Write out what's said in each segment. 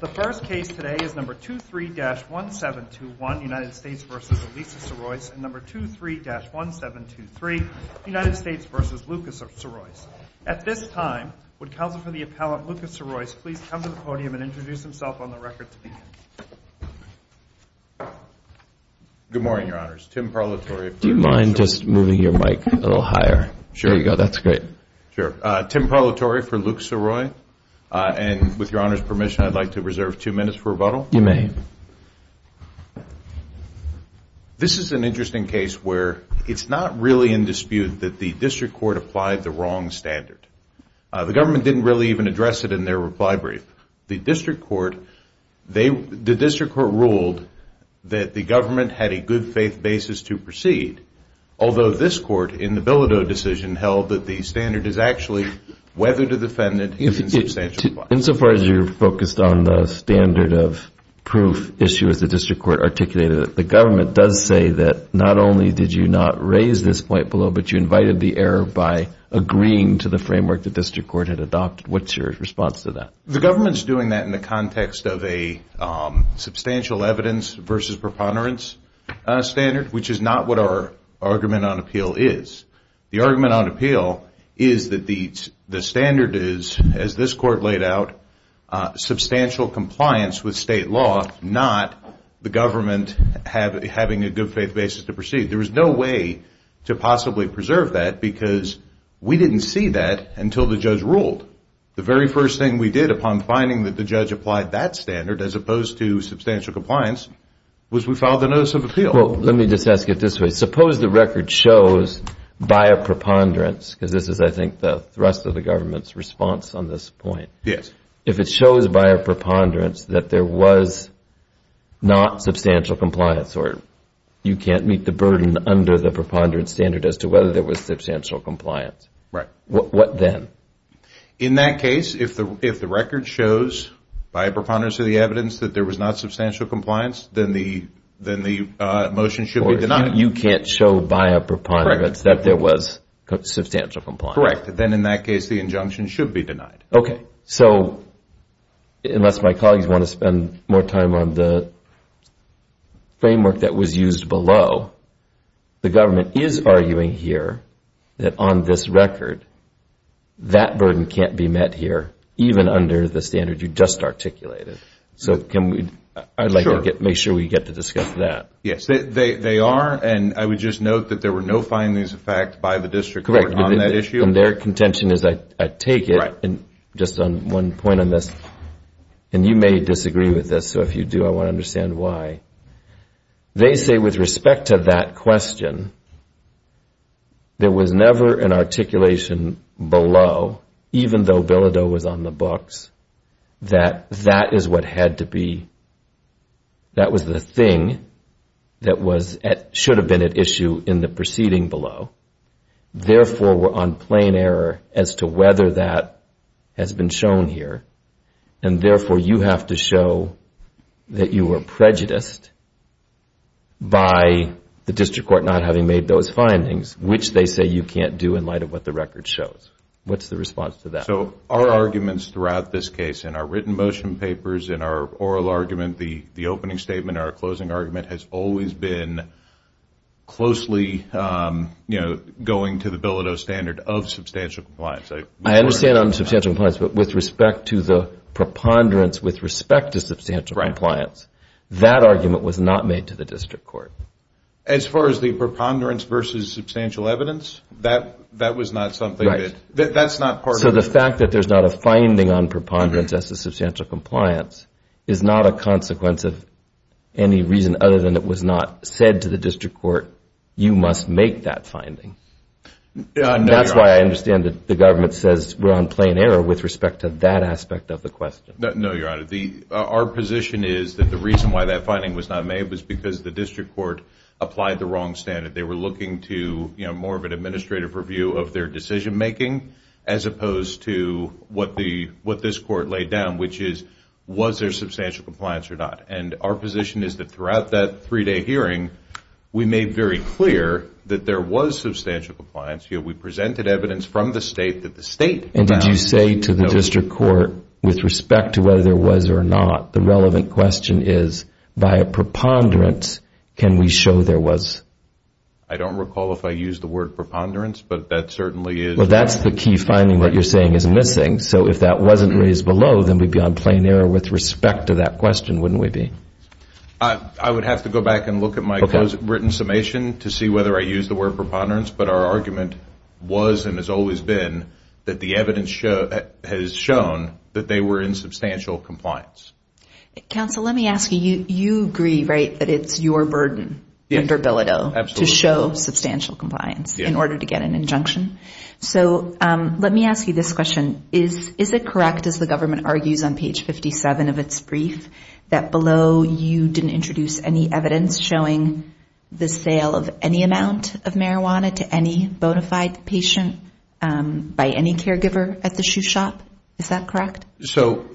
The first case today is No. 23-1721, United States v. Lisa Sirois, and No. 23-1723, United States v. Lucas Sirois. At this time, would Counsel for the Appellant, Lucas Sirois, please come to the podium and introduce himself on the record to begin. Good morning, Your Honors. Tim Parlatory. Do you mind just moving your mic a little higher? Sure. There you go. That's great. Tim Parlatory for Lucas Sirois. And with Your Honors' permission, I'd like to reserve two minutes for rebuttal. You may. This is an interesting case where it's not really in dispute that the district court applied the wrong standard. The government didn't really even address it in their reply brief. The district court ruled that the government had a good-faith basis to proceed, although this court, in the Bilodeau decision, held that the standard is actually weathered a defendant in a substantial plan. Insofar as you're focused on the standard of proof issue, as the district court articulated, the government does say that not only did you not raise this point below, but you invited the error by agreeing to the framework the district court had adopted. What's your response to that? The government's doing that in the context of a substantial evidence versus preponderance standard, which is not what our argument on appeal is. The argument on appeal is that the standard is, as this court laid out, substantial compliance with state law, not the government having a good-faith basis to proceed. There was no way to possibly preserve that because we didn't see that until the judge ruled. The very first thing we did upon finding that the judge applied that standard, as opposed to substantial compliance, was we filed a Let me just ask it this way. Suppose the record shows, by a preponderance, because this is, I think, the thrust of the government's response on this point, if it shows by a preponderance that there was not substantial compliance, or you can't meet the burden under the preponderance standard as to whether there was substantial compliance, what then? In that case, if the record shows by a preponderance of the evidence that there was not substantial compliance, then the motion should be denied. You can't show by a preponderance that there was substantial compliance. Correct. Then, in that case, the injunction should be denied. So unless my colleagues want to spend more time on the framework that was used below, the government is arguing here that on this record, that burden can't be met here, even under the standard you just articulated. So I would like to make sure we get to discuss that. Yes, they are, and I would just note that there were no findings of fact by the district court on that issue. Correct, and their contention is, I take it, just on one point on this, and you may disagree with this, so if you do, I want to understand why. They say, with respect to that question, there was never an articulation below, even though Bilodeau was on the books, that that is what had to be, that was the thing that should have been at issue in the proceeding below. Therefore, we're on plain error as to whether that has been shown here, and therefore, you have to show that you were prejudiced by the district court not having made those findings, which they say you can't do in light of what the record shows. What's the response to that? So our arguments throughout this case, in our written motion papers, in our oral argument, the opening statement, our closing argument has always been closely, you know, going to the Bilodeau standard of substantial compliance. I understand on substantial compliance, but with respect to the preponderance with respect to substantial compliance, that argument was not made to the district court. As far as the preponderance versus substantial evidence, that was not something that, that's not part of. So the fact that there's not a finding on preponderance as to substantial compliance is not a consequence of any reason other than it was not said to the district court, you must make that finding. That's why I understand that the government says we're on plain error with respect to that aspect of the question. No, Your Honor. Our position is that the reason why that finding was not made was because the district court applied the wrong standard. They were looking to, you know, more of an administrative review of their decision-making as opposed to what this court laid down, which is was there substantial compliance or not. And our position is that throughout that three-day hearing, we made very clear that there was substantial compliance. You know, we presented evidence from the state that the state found. And did you say to the district court with respect to whether there was or not, the relevant question is by a preponderance, can we show there was? I don't recall if I used the word preponderance, but that certainly is. Well, that's the key finding that you're saying is missing. So if that wasn't raised below, then we'd be on plain error with respect to that question, wouldn't we be? I would have to go back and look at my written summation to see whether I used the word preponderance. But our argument was and has always been that the evidence has shown that they were in substantial compliance. Counsel, let me ask you, you agree, right, that it's your burden under Bilodeau to show substantial compliance in order to get an injunction? So let me ask you this question. Is it correct, as the government argues on page 57 of its brief, that below you didn't introduce any evidence showing the sale of any amount of marijuana to any bona fide patient by any caregiver at the shoe shop? Is that correct? So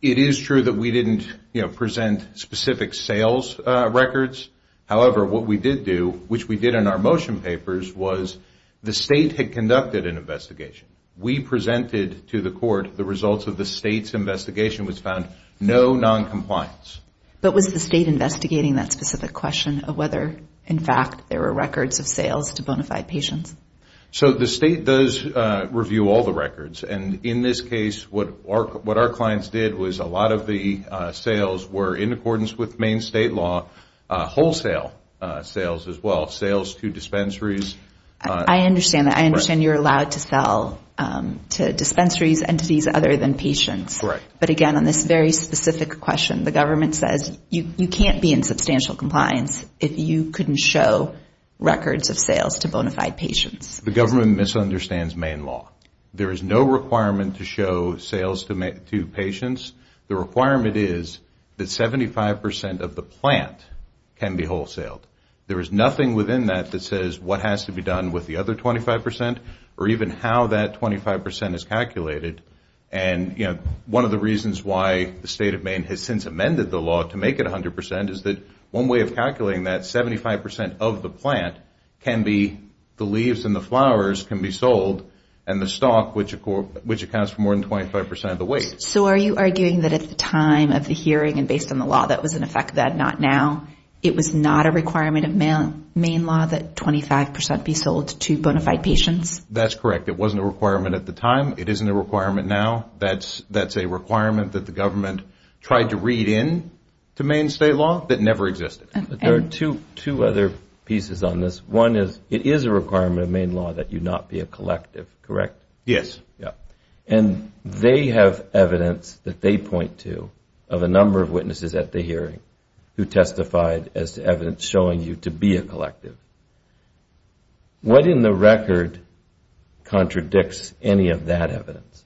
it is true that we didn't present specific sales records. However, what we did do, which we did in our motion papers, was the state had conducted an investigation. We presented to the court the results of the state's investigation, which found no noncompliance. But was the state investigating that specific question of whether, in fact, there were records of sales to bona fide patients? So the state does review all the records. And in this case, what our clients did was a lot of the sales were in accordance with main state law, wholesale sales as well, sales to dispensaries. I understand that. I understand you're allowed to sell to dispensaries, entities other than patients. Correct. But again, on this very specific question, the government says you can't be in substantial compliance if you couldn't show records of sales to bona fide patients. The government misunderstands main law. There is no requirement to show sales to patients. The requirement is that 75% of the plant can be wholesale. There is nothing within that that says what has to be done with the other 25% or even how that 25% is calculated. And, you know, one of the reasons why the state of Maine has since amended the law to make it 100% is that one way of calculating that, the leaves and the flowers can be sold and the stock, which accounts for more than 25% of the weight. So are you arguing that at the time of the hearing and based on the law that was in effect then, not now, it was not a requirement of Maine law that 25% be sold to bona fide patients? That's correct. It wasn't a requirement at the time. It isn't a requirement now. That's a requirement that the government tried to read in to Maine state law that never existed. There are two other pieces on this. One is it is a requirement of Maine law that you not be a collective, correct? Yes. And they have evidence that they point to of a number of witnesses at the hearing who testified as evidence showing you to be a collective. What in the record contradicts any of that evidence?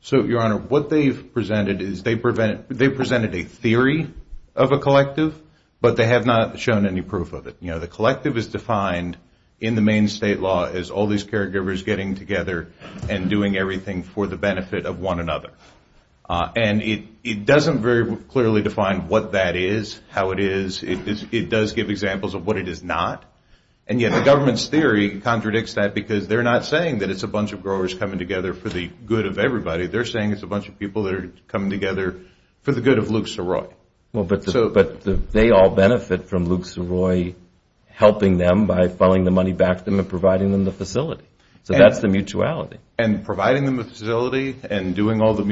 So, Your Honor, what they've presented is they presented a theory of a collective, but they have not shown any proof of it. The collective is defined in the Maine state law as all these caregivers getting together and doing everything for the benefit of one another. And it doesn't very clearly define what that is, how it is. It does give examples of what it is not. And yet the government's theory contradicts that because they're not saying that it's a bunch of growers coming together for the good of everybody. They're saying it's a bunch of people that are coming together for the good of Luke Soroy. Well, but they all benefit from Luke Soroy helping them by funneling the money back to them and providing them the facility. So that's the mutuality. And providing them the facility and doing all the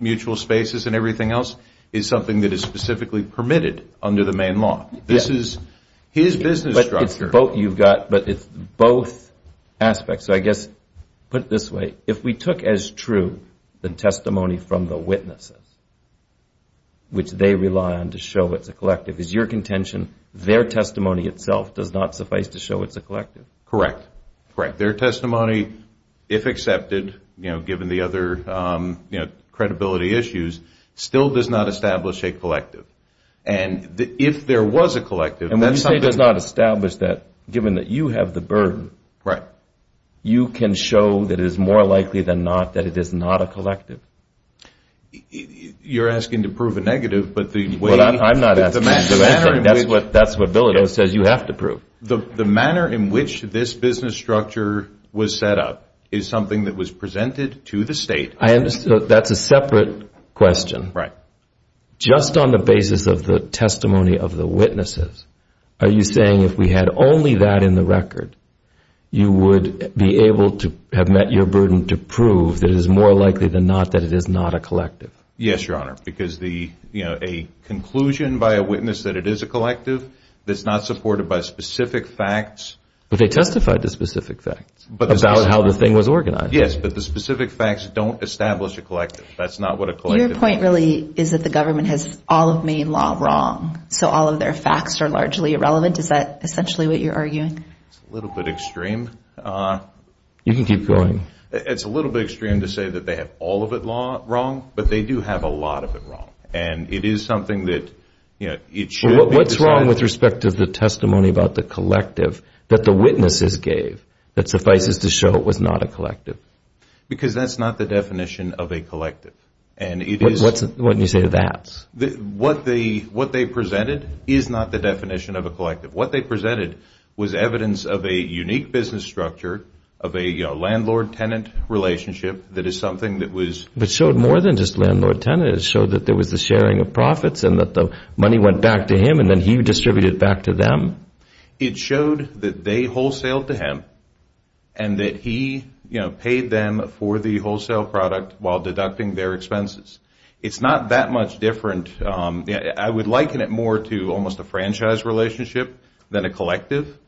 mutual spaces and everything else is something that is specifically permitted under the Maine law. This is his business structure. But it's both aspects. So I guess, put it this way, if we took as true the testimony from the witnesses, which they rely on to show it's a collective, is your contention their testimony itself does not suffice to show it's a collective? Correct. Correct. Their testimony, if accepted, given the other credibility issues, still does not establish a collective. And if there was a collective, that's something... And when you say does not establish that, given that you have the burden, you can show that it is more likely than not that it is not a collective. You're asking to prove a negative, but the way... Well, I'm not asking to prove anything. That's what Bilodeau says you have to prove. The manner in which this business structure was set up is something that was presented to the state. That's a separate question. Right. Now, just on the basis of the testimony of the witnesses, are you saying if we had only that in the record, you would be able to have met your burden to prove that it is more likely than not that it is not a collective? Yes, Your Honor, because a conclusion by a witness that it is a collective that's not supported by specific facts... But they testified to specific facts about how the thing was organized. Yes, but the specific facts don't establish a collective. That's not what a collective... Your point really is that the government has all of Maine law wrong, so all of their facts are largely irrelevant. Is that essentially what you're arguing? It's a little bit extreme. You can keep going. It's a little bit extreme to say that they have all of it wrong, but they do have a lot of it wrong. And it is something that, you know, it should be decided... What's wrong with respect to the testimony about the collective that the witnesses gave that suffices to show it was not a collective? Because that's not the definition of a collective. And it is... What do you say to that? What they presented is not the definition of a collective. What they presented was evidence of a unique business structure of a landlord-tenant relationship that is something that was... But showed more than just landlord-tenant. It showed that there was the sharing of profits and that the money went back to him and then he distributed it back to them. It showed that they wholesale to him and that he, you know, paid them for the wholesale product while deducting their expenses. It's not that much different. I would liken it more to almost a franchise relationship than a collective.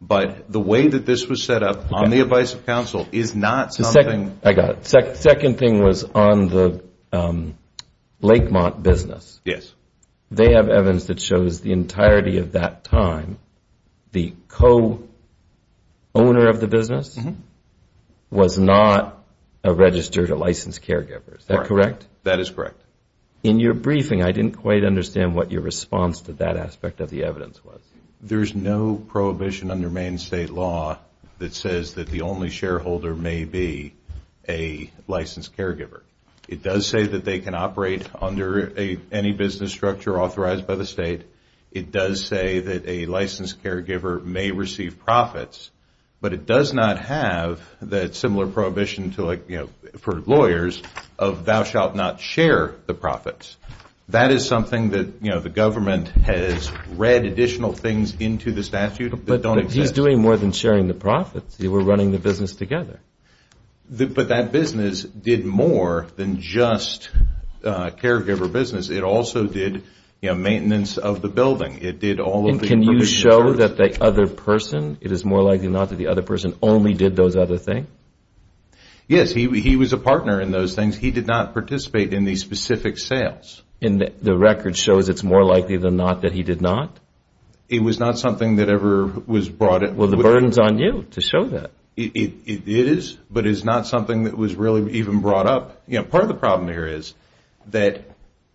But the way that this was set up on the advice of counsel is not something... I got it. Second thing was on the Lakemont business. Yes. They have evidence that shows the entirety of that time the co-owner of the business was not a registered or licensed caregiver. Is that correct? That is correct. In your briefing, I didn't quite understand what your response to that aspect of the evidence was. There's no prohibition under Maine State law that says that the only shareholder may be a licensed caregiver. It does say that they can operate under any business structure authorized by the state. It does say that a licensed caregiver may receive profits. But it does not have that similar prohibition to like, you know, for lawyers of thou shalt not share the profits. That is something that, you know, the government has read additional things into the statute that don't exist. But he's doing more than sharing the profits. We're running the business together. But that business did more than just caregiver business. It also did, you know, maintenance of the building. It did all of the information. And can you show that the other person, it is more likely not that the other person only did those other things? Yes. He was a partner in those things. He did not participate in these specific sales. And the record shows it's more likely than not that he did not? It was not something that ever was brought... Well, the burden's on you to show that. It is, but it's not something that was really even brought up. You know, part of the problem here is that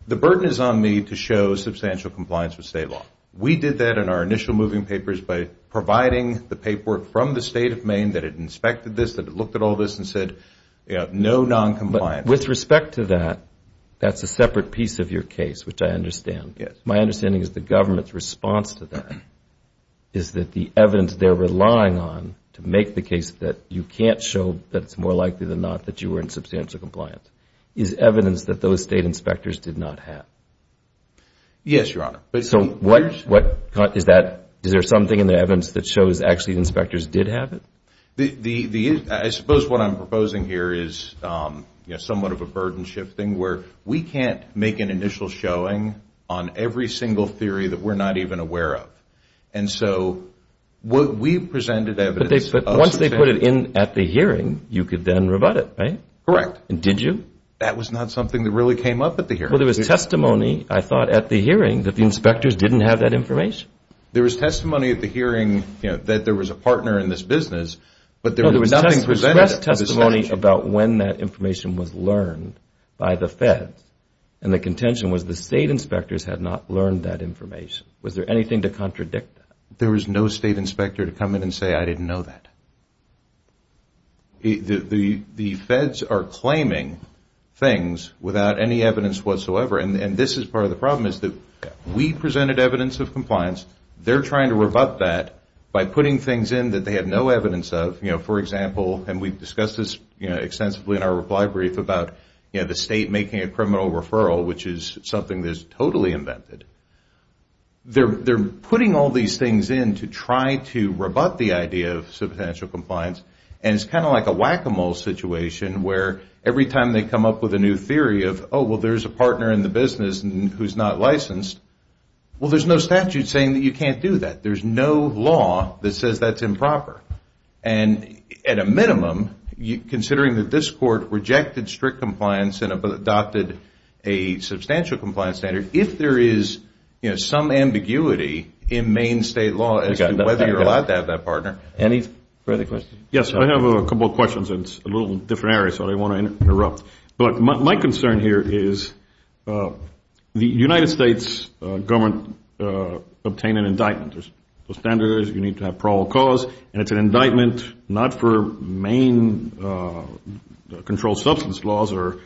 the burden is on me to show substantial compliance with state law. We did that in our initial moving papers by providing the paperwork from the state of Maine that it inspected this, that it looked at all this and said, you know, no noncompliance. But with respect to that, that's a separate piece of your case, which I understand. Yes. My understanding is the government's response to that is that the evidence they're relying on to make the case that you can't show that it's more likely than not that you were in substantial compliance is evidence that those state inspectors did not have. Yes, Your Honor. So what is that? Is there something in the evidence that shows actually inspectors did have it? I suppose what I'm proposing here is, you know, somewhat of a burden shifting where we can't make an initial showing on every single theory that we're not even aware of. And so we presented evidence. But once they put it in at the hearing, you could then rebut it, right? Correct. And did you? That was not something that really came up at the hearing. Well, there was testimony, I thought, at the hearing that the inspectors didn't have that information. There was testimony at the hearing, you know, that there was a partner in this business, but there was nothing presented. There was testimony about when that information was learned by the feds. And the contention was the state inspectors had not learned that information. Was there anything to contradict that? There was no state inspector to come in and say, I didn't know that. The feds are claiming things without any evidence whatsoever. And this is part of the problem is that we presented evidence of compliance. They're trying to rebut that by putting things in that they had no evidence of. You know, for example, and we've discussed this extensively in our reply brief about the state making a criminal referral, which is something that is totally invented. They're putting all these things in to try to rebut the idea of substantial compliance. And it's kind of like a whack-a-mole situation where every time they come up with a new theory of, oh, well, there's a partner in the business who's not licensed, well, there's no statute saying that you can't do that. There's no law that says that's improper. And at a minimum, considering that this court rejected strict compliance and adopted a substantial compliance standard, if there is, you know, some ambiguity in main state law as to whether you're allowed to have that partner. Any further questions? Yes, I have a couple of questions. It's a little different area, so I don't want to interrupt. But my concern here is the United States government obtained an indictment. There's the standards. You need to have parole cause. And it's an indictment not for main controlled substance laws or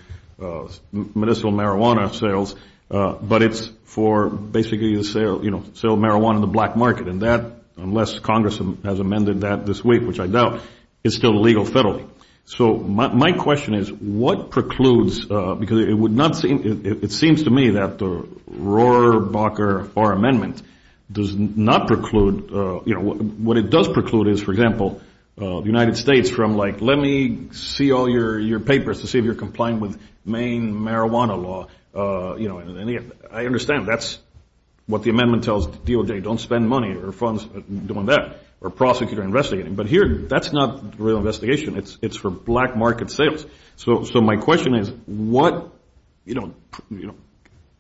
medicinal marijuana sales, but it's for basically the sale of marijuana in the black market. And that, unless Congress has amended that this week, which I doubt, is still legal federally. So my question is, what precludes, because it would not seem, it seems to me that the Rohrabacher Far Amendment does not preclude, you know, what it does preclude is, for example, the United States from, like, let me see all your papers to see if you're complying with main marijuana law. I understand that's what the amendment tells DOJ, don't spend money or funds doing that, or prosecutor investigating. But here, that's not real investigation. It's for black market sales. So my question is, what, you know,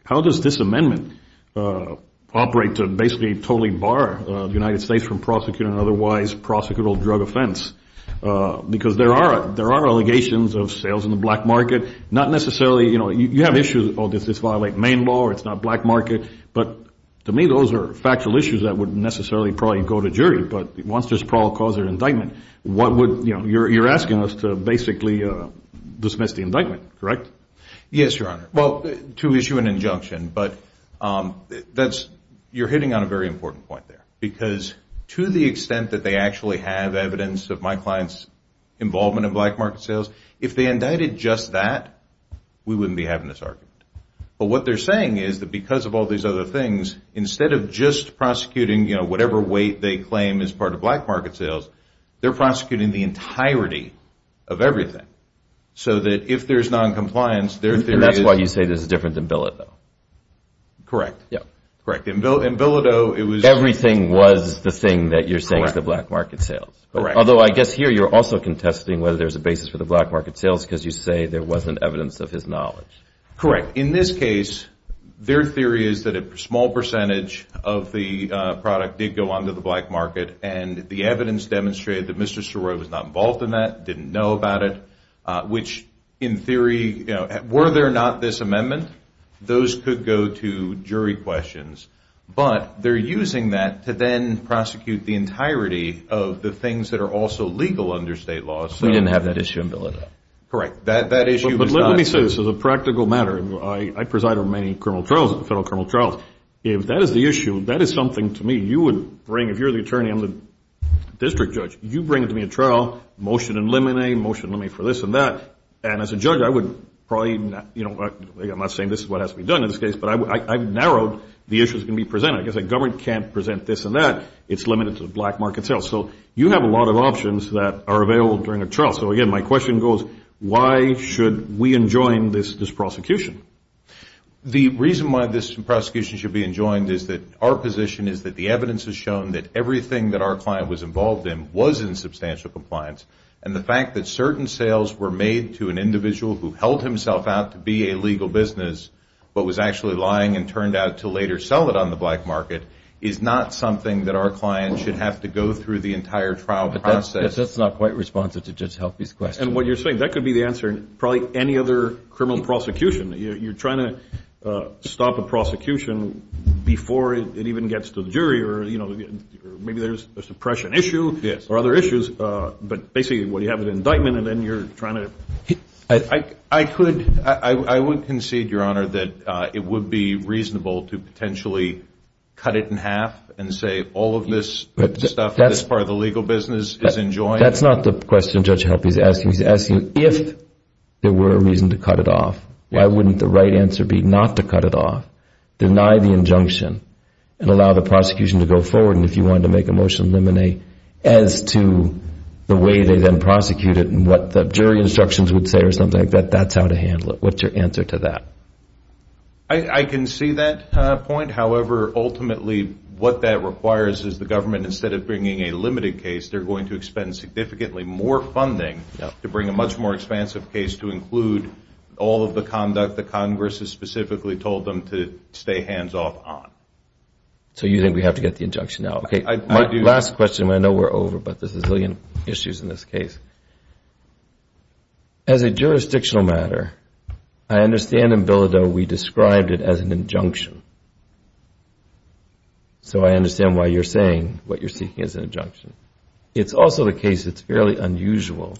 how does this amendment operate to basically totally bar the United States from prosecuting an otherwise prosecutable drug offense? Because there are allegations of sales in the black market, not necessarily, you know, you have issues, oh, does this violate main law or it's not black market? But to me, those are factual issues that wouldn't necessarily probably go to jury. But once there's probable cause or indictment, what would, you know, you're asking us to basically dismiss the indictment, correct? Yes, Your Honor. Well, to issue an injunction. But that's, you're hitting on a very important point there. Because to the extent that they actually have evidence of my client's involvement in black market sales, if they indicted just that, we wouldn't be having this argument. But what they're saying is that because of all these other things, instead of just prosecuting, you know, whatever weight they claim is part of black market sales, they're prosecuting the entirety of everything. So that if there's noncompliance, their theory is. And that's why you say this is different than Bilodeau. Yeah. Correct. In Bilodeau, it was. Everything was the thing that you're saying is the black market sales. Correct. Although I guess here you're also contesting whether there's a basis for the black market sales because you say there wasn't evidence of his knowledge. Correct. In this case, their theory is that a small percentage of the product did go onto the black market and the evidence demonstrated that Mr. Soroya was not involved in that, didn't know about it, which in theory, you know, were there not this amendment, those could go to jury questions. But they're using that to then prosecute the entirety of the things that are also legal under state law. We didn't have that issue in Bilodeau. Correct. That issue was not. I say this as a practical matter. I preside over many criminal trials, federal criminal trials. If that is the issue, that is something to me you would bring. If you're the attorney, I'm the district judge. You bring to me a trial, motion in limine, motion in limine for this and that. And as a judge, I would probably, you know, I'm not saying this is what has to be done in this case, but I've narrowed the issues that can be presented. I guess a government can't present this and that. It's limited to the black market sales. So you have a lot of options that are available during a trial. So, again, my question goes, why should we enjoin this prosecution? The reason why this prosecution should be enjoined is that our position is that the evidence has shown that everything that our client was involved in was in substantial compliance. And the fact that certain sales were made to an individual who held himself out to be a legal business but was actually lying and turned out to later sell it on the black market is not something that our client should have to go through the entire trial process. I guess that's not quite responsive to Judge Halpy's question. And what you're saying, that could be the answer in probably any other criminal prosecution. You're trying to stop a prosecution before it even gets to the jury or, you know, maybe there's a suppression issue or other issues. But basically what you have is an indictment and then you're trying to. I could. I would concede, Your Honor, that it would be reasonable to potentially cut it in half and say all of this stuff, this part of the legal business is enjoined. That's not the question Judge Halpy is asking. He's asking if there were a reason to cut it off, why wouldn't the right answer be not to cut it off, deny the injunction and allow the prosecution to go forward. And if you wanted to make a motion to eliminate as to the way they then prosecute it and what the jury instructions would say or something like that, that's how to handle it. What's your answer to that? I can see that point. However, ultimately what that requires is the government, instead of bringing a limited case, they're going to expend significantly more funding to bring a much more expansive case to include all of the conduct that Congress has specifically told them to stay hands-off on. So you think we have to get the injunction out. My last question, I know we're over, but there's a zillion issues in this case. As a jurisdictional matter, I understand in Bilodeau we described it as an injunction. So I understand why you're saying what you're seeking is an injunction. It's also the case it's fairly unusual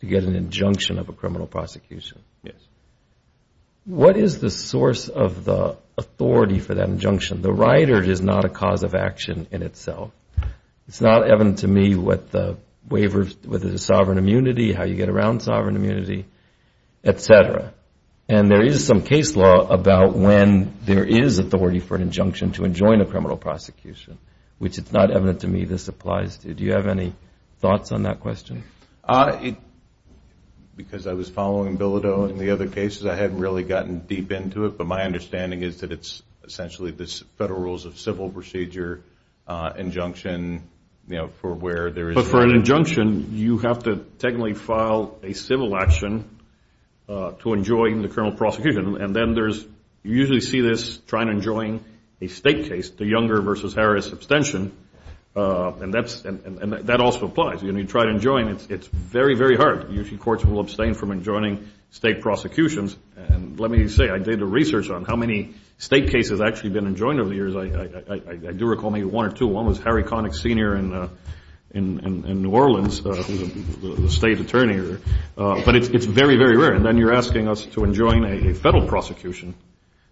to get an injunction of a criminal prosecution. Yes. What is the source of the authority for that injunction? The rider is not a cause of action in itself. It's not evident to me what the waiver, whether it's sovereign immunity, how you get around sovereign immunity, et cetera. And there is some case law about when there is authority for an injunction to enjoin a criminal prosecution, which it's not evident to me this applies to. Do you have any thoughts on that question? Because I was following Bilodeau and the other cases, I hadn't really gotten deep into it, but my understanding is that it's essentially the federal rules of civil procedure injunction for where there is. But for an injunction, you have to technically file a civil action to enjoin the criminal prosecution, and then you usually see this trying to enjoin a state case, the Younger v. Harris abstention, and that also applies. You try to enjoin, it's very, very hard. Usually courts will abstain from enjoining state prosecutions. And let me say, I did the research on how many state cases actually have been enjoined over the years. I do recall maybe one or two. One was Harry Connick Sr. in New Orleans, who is a state attorney. But it's very, very rare. And then you're asking us to enjoin a federal prosecution,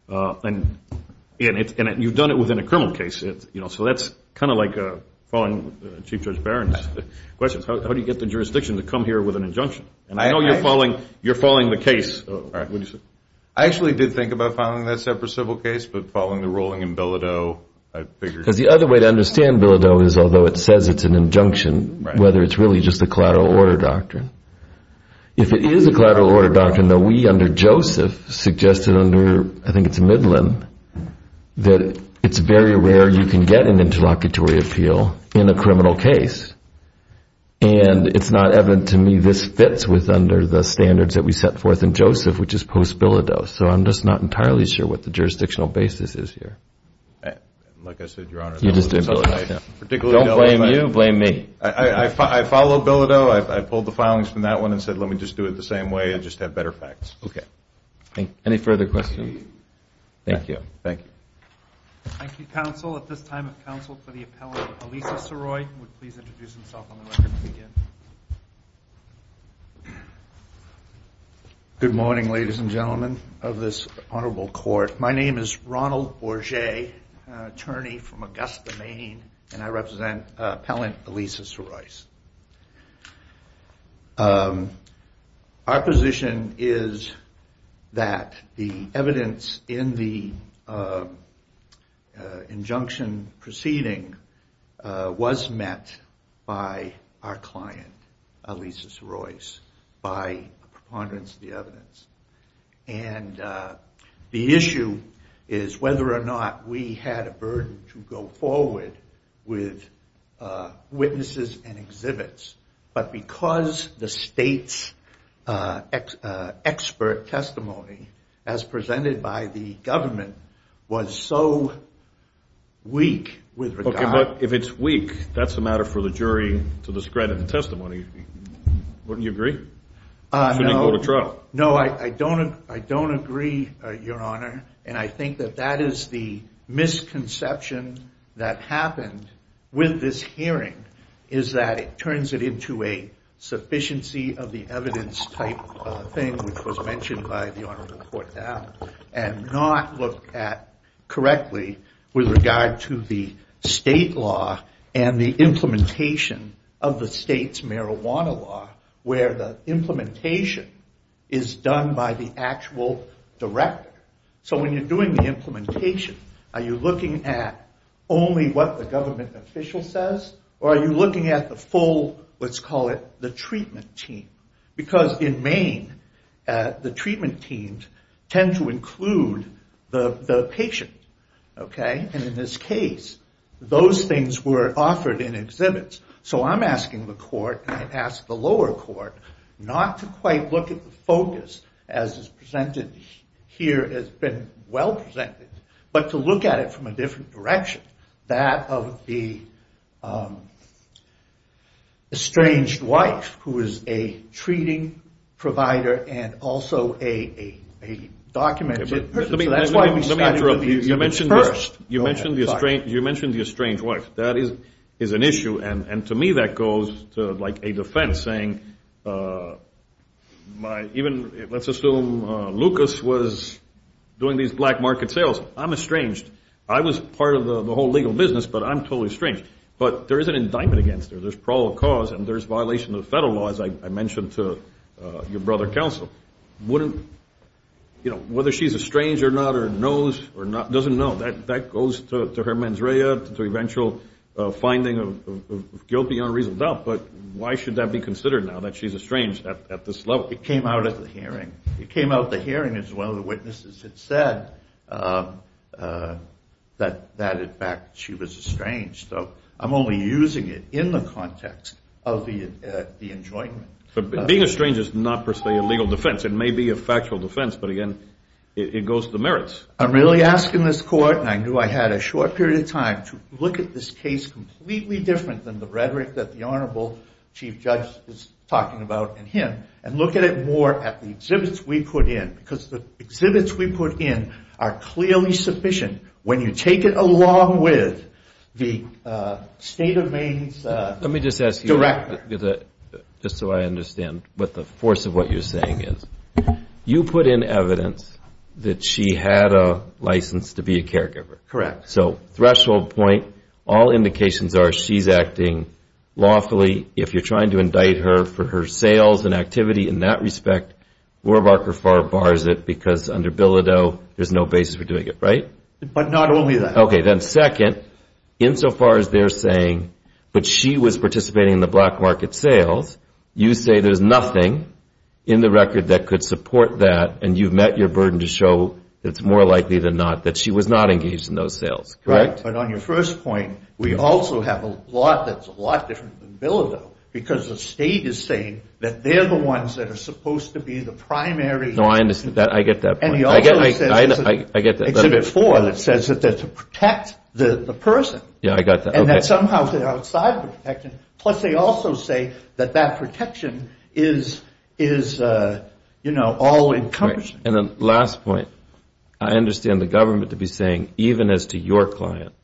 and you've done it within a criminal case. So that's kind of like following Chief Judge Barron's questions. How do you get the jurisdiction to come here with an injunction? And I know you're following the case. I actually did think about following that separate civil case, but following the ruling in Bilodeau, I figured. Because the other way to understand Bilodeau is although it says it's an injunction, whether it's really just a collateral order doctrine. If it is a collateral order doctrine, though, we under Joseph suggested under, I think it's Midland, that it's very rare you can get an interlocutory appeal in a criminal case. And it's not evident to me this fits with under the standards that we set forth in Joseph, which is post-Bilodeau. So I'm just not entirely sure what the jurisdictional basis is here. Like I said, Your Honor. Don't blame you. Blame me. I follow Bilodeau. I pulled the filings from that one and said let me just do it the same way and just have better facts. Any further questions? Thank you. Thank you. Thank you, counsel. At this time of counsel for the appellant, Elisa Soroy, would please introduce herself on the record to begin. Good morning, ladies and gentlemen of this honorable court. My name is Ronald Borget, attorney from Augusta, Maine, and I represent Appellant Elisa Soroy. Our position is that the evidence in the injunction proceeding was met by our client, Elisa Soroy, by preponderance of the evidence. And the issue is whether or not we had a burden to go forward with witnesses and exhibits. But because the state's expert testimony, as presented by the government, was so weak with regard to Okay, but if it's weak, that's a matter for the jury to discredit the testimony. Wouldn't you agree? No. Shouldn't you go to trial? No, I don't agree, your honor. And I think that that is the misconception that happened with this hearing, is that it turns it into a sufficiency of the evidence type thing, which was mentioned by the honorable court, and not looked at correctly with regard to the state law and the implementation of the state's marijuana law, where the implementation is done by the actual director. So when you're doing the implementation, are you looking at only what the government official says, or are you looking at the full, let's call it the treatment team? Because in Maine, the treatment teams tend to include the patient, okay? And in this case, those things were offered in exhibits. So I'm asking the court, and I ask the lower court, not to quite look at the focus, as is presented here, as been well presented, but to look at it from a different direction, that of the estranged wife, who is a treating provider and also a documented person. So that's why we started with the exhibits first. You mentioned the estranged wife. That is an issue, and to me that goes to, like, a defense saying, even let's assume Lucas was doing these black market sales. I'm estranged. I was part of the whole legal business, but I'm totally estranged. But there is an indictment against her. There's parole cause, and there's violation of the federal law, as I mentioned to your brother counsel. You know, whether she's estranged or not or knows or doesn't know, that goes to her mens rea, to eventual finding of guilt beyond reasonable doubt. But why should that be considered now, that she's estranged at this level? It came out at the hearing. It came out at the hearing as well. The witnesses had said that, in fact, she was estranged. So I'm only using it in the context of the enjoyment. But being estranged is not, per se, a legal defense. It may be a factual defense, but, again, it goes to the merits. I'm really asking this court, and I knew I had a short period of time, to look at this case completely different than the rhetoric that the Honorable Chief Judge is talking about and him and look at it more at the exhibits we put in because the exhibits we put in are clearly sufficient when you take it along with the state of Maine's director. Let me just ask you, just so I understand what the force of what you're saying is. You put in evidence that she had a license to be a caregiver. Correct. So threshold point, all indications are she's acting lawfully. If you're trying to indict her for her sales and activity in that respect, Warbacher-Farr bars it because under Bilodeau there's no basis for doing it, right? But not only that. Okay, then second, insofar as they're saying that she was participating in the black market sales, you say there's nothing in the record that could support that, and you've met your burden to show that it's more likely than not that she was not engaged in those sales. Right. But on your first point, we also have a law that's a lot different than Bilodeau because the state is saying that they're the ones that are supposed to be the primary. No, I understand. I get that point. Exhibit four that says that they're to protect the person. Yeah, I got that. And that somehow they're outside the protection. Plus they also say that that protection is, you know, all-encompassing. And then last point, I understand the government to be saying even as to your client,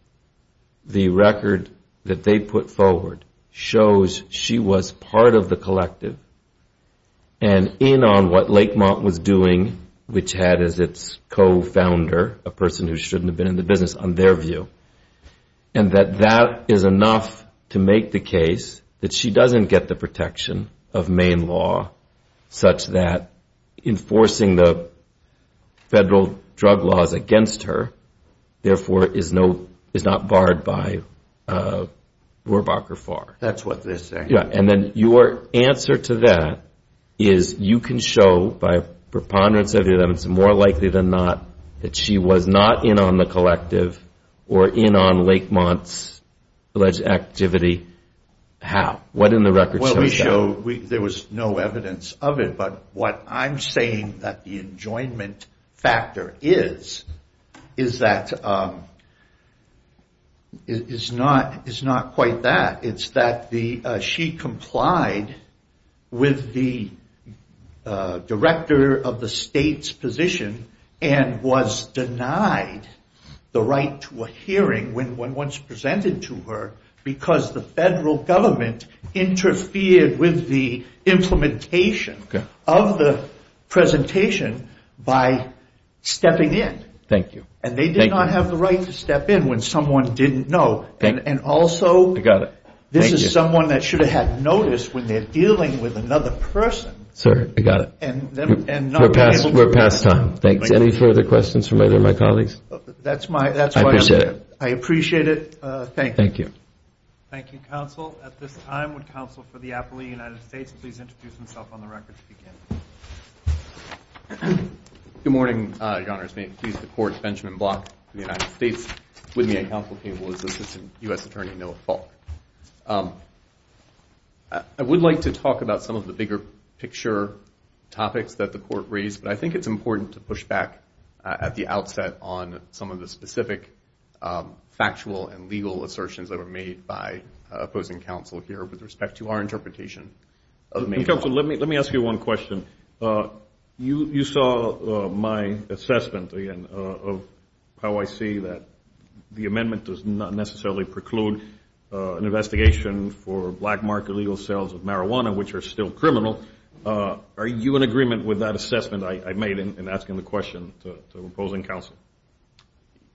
the record that they put forward shows she was part of the collective and in on what Lakemont was doing, which had as its co-founder, a person who shouldn't have been in the business, on their view, and that that is enough to make the case that she doesn't get the protection of Maine law such that enforcing the federal drug laws against her, therefore, is not barred by Rohrbacher-Farr. That's what they're saying. And then your answer to that is you can show by preponderance of evidence, more likely than not that she was not in on the collective or in on Lakemont's alleged activity. How? What in the record shows that? Well, we show there was no evidence of it. But what I'm saying that the enjoyment factor is, is that it's not quite that. It's that she complied with the director of the state's position and was denied the right to a hearing when once presented to her because the federal government interfered with the implementation of the presentation by stepping in. Thank you. And they did not have the right to step in when someone didn't know. And also, this is someone that should have had notice when they're dealing with another person. Sir, I got it. We're past time. Thanks. Any further questions from either of my colleagues? That's my answer. I appreciate it. I appreciate it. Thank you. Thank you. Thank you, counsel. At this time, would counsel for the Appellee of the United States please introduce himself on the record to begin? Good morning, Your Honors. May it please the Court, Benjamin Block of the United States. With me at counsel table is Assistant U.S. Attorney Noah Falk. I would like to talk about some of the bigger picture topics that the Court raised, but I think it's important to push back at the outset on some of the specific factual and legal assertions that were made by opposing counsel here with respect to our interpretation. Counsel, let me ask you one question. You saw my assessment, again, of how I see that the amendment does not necessarily preclude an investigation for black market legal sales of marijuana, which are still criminal. Are you in agreement with that assessment I made in asking the question to opposing counsel?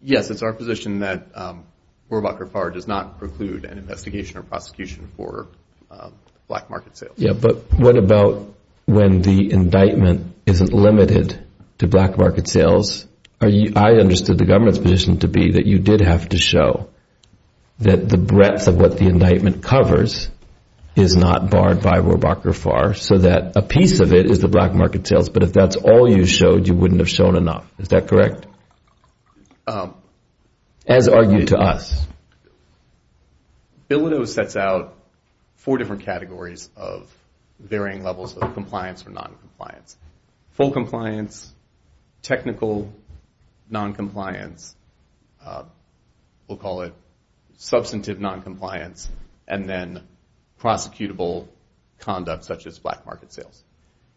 Yes, it's our position that Borlaug Far does not preclude an investigation or prosecution for black market sales. But what about when the indictment isn't limited to black market sales? I understood the government's position to be that you did have to show that the breadth of what the indictment covers is not barred by Borlaug Far so that a piece of it is the black market sales, but if that's all you showed, you wouldn't have shown enough. Is that correct? As argued to us. Bilodeau sets out four different categories of varying levels of compliance or noncompliance. Full compliance, technical noncompliance, we'll call it substantive noncompliance, and then prosecutable conduct such as black market sales.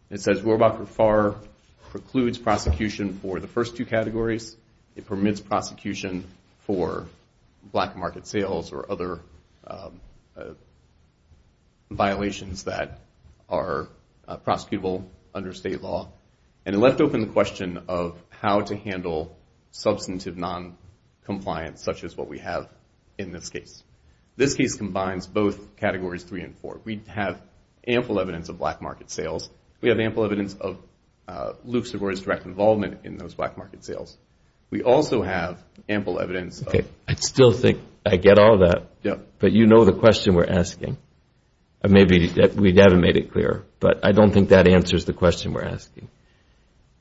It says Borlaug Far precludes prosecution for the first two categories. It permits prosecution for black market sales or other violations that are prosecutable under state law, and it left open the question of how to handle substantive noncompliance such as what we have in this case. This case combines both categories three and four. We have ample evidence of black market sales. We have ample evidence of Lucidware's direct involvement in those black market sales. We also have ample evidence of... Okay, I still think I get all that, but you know the question we're asking. Maybe we haven't made it clear, but I don't think that answers the question we're asking.